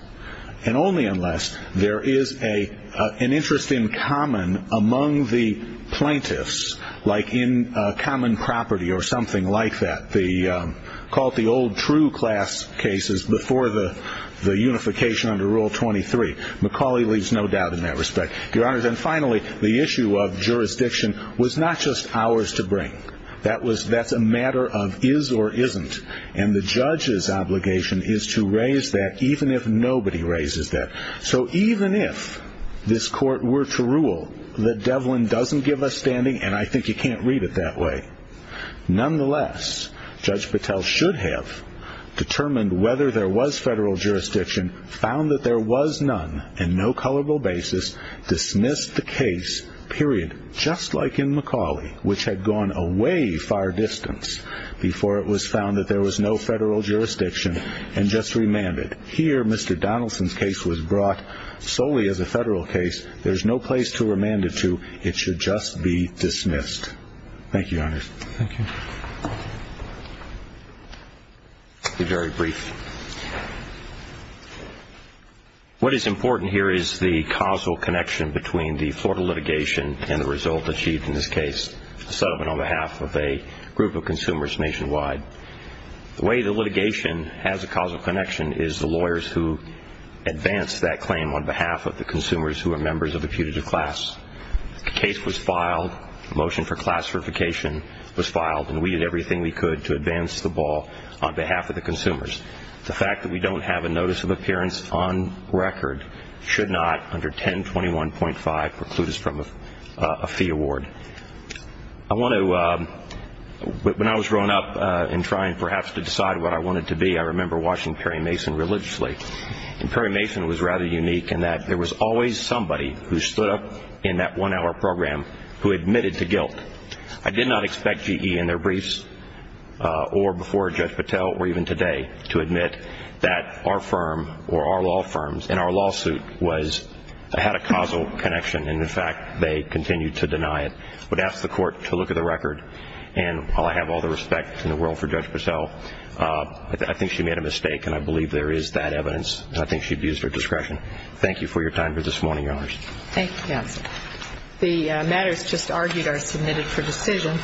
and only unless there is a an interest in common among the plaintiffs, like in common property or something like that. The called the old true class cases before the unification under Rule 23. Macaulay leaves no doubt in that respect. Your Honor, then finally, the issue of jurisdiction was not just ours to bring. That was that's a matter of is or isn't. And the judge's obligation is to raise that even if nobody raises that. So even if this court were to rule that Devlin doesn't give a standing, and I think you can't read it that way. Nonetheless, Judge Patel should have determined whether there was federal jurisdiction, found that there was none and no colorable basis, dismissed the case, period. Just like in Macaulay, which had gone a way far distance before it was found that there was no federal jurisdiction and just remanded. Here, Mr. Donaldson's case was brought solely as a federal case. There's no place to remand it to. It should just be dismissed. Thank you, Your Honor. Thank you. I'll be very brief. What is important here is the causal connection between the Florida litigation and the result achieved in this case, a settlement on behalf of a group of consumers nationwide. The way the litigation has a causal connection is the lawyers who advance that claim on behalf of the consumers who are members of the putative class. The case was filed. The motion for class certification was filed, and we did everything we could to advance the ball on behalf of the consumers. The fact that we don't have a notice of appearance on record should not, under 1021.5, preclude us from a fee award. When I was growing up and trying perhaps to decide what I wanted to be, I remember watching Perry Mason religiously. And Perry Mason was rather unique in that there was always somebody who stood up in that one-hour program who admitted to guilt. I did not expect GE in their briefs or before Judge Patel or even today to admit that our firm or our law firms in our lawsuit had a causal connection, and, in fact, they continued to deny it. I would ask the court to look at the record, and while I have all the respect in the world for Judge Patel, I think she made a mistake, and I believe there is that evidence, and I think she abused her discretion. Thank you for your time for this morning, Your Honors. Thank you. The matters just argued are submitted for decision.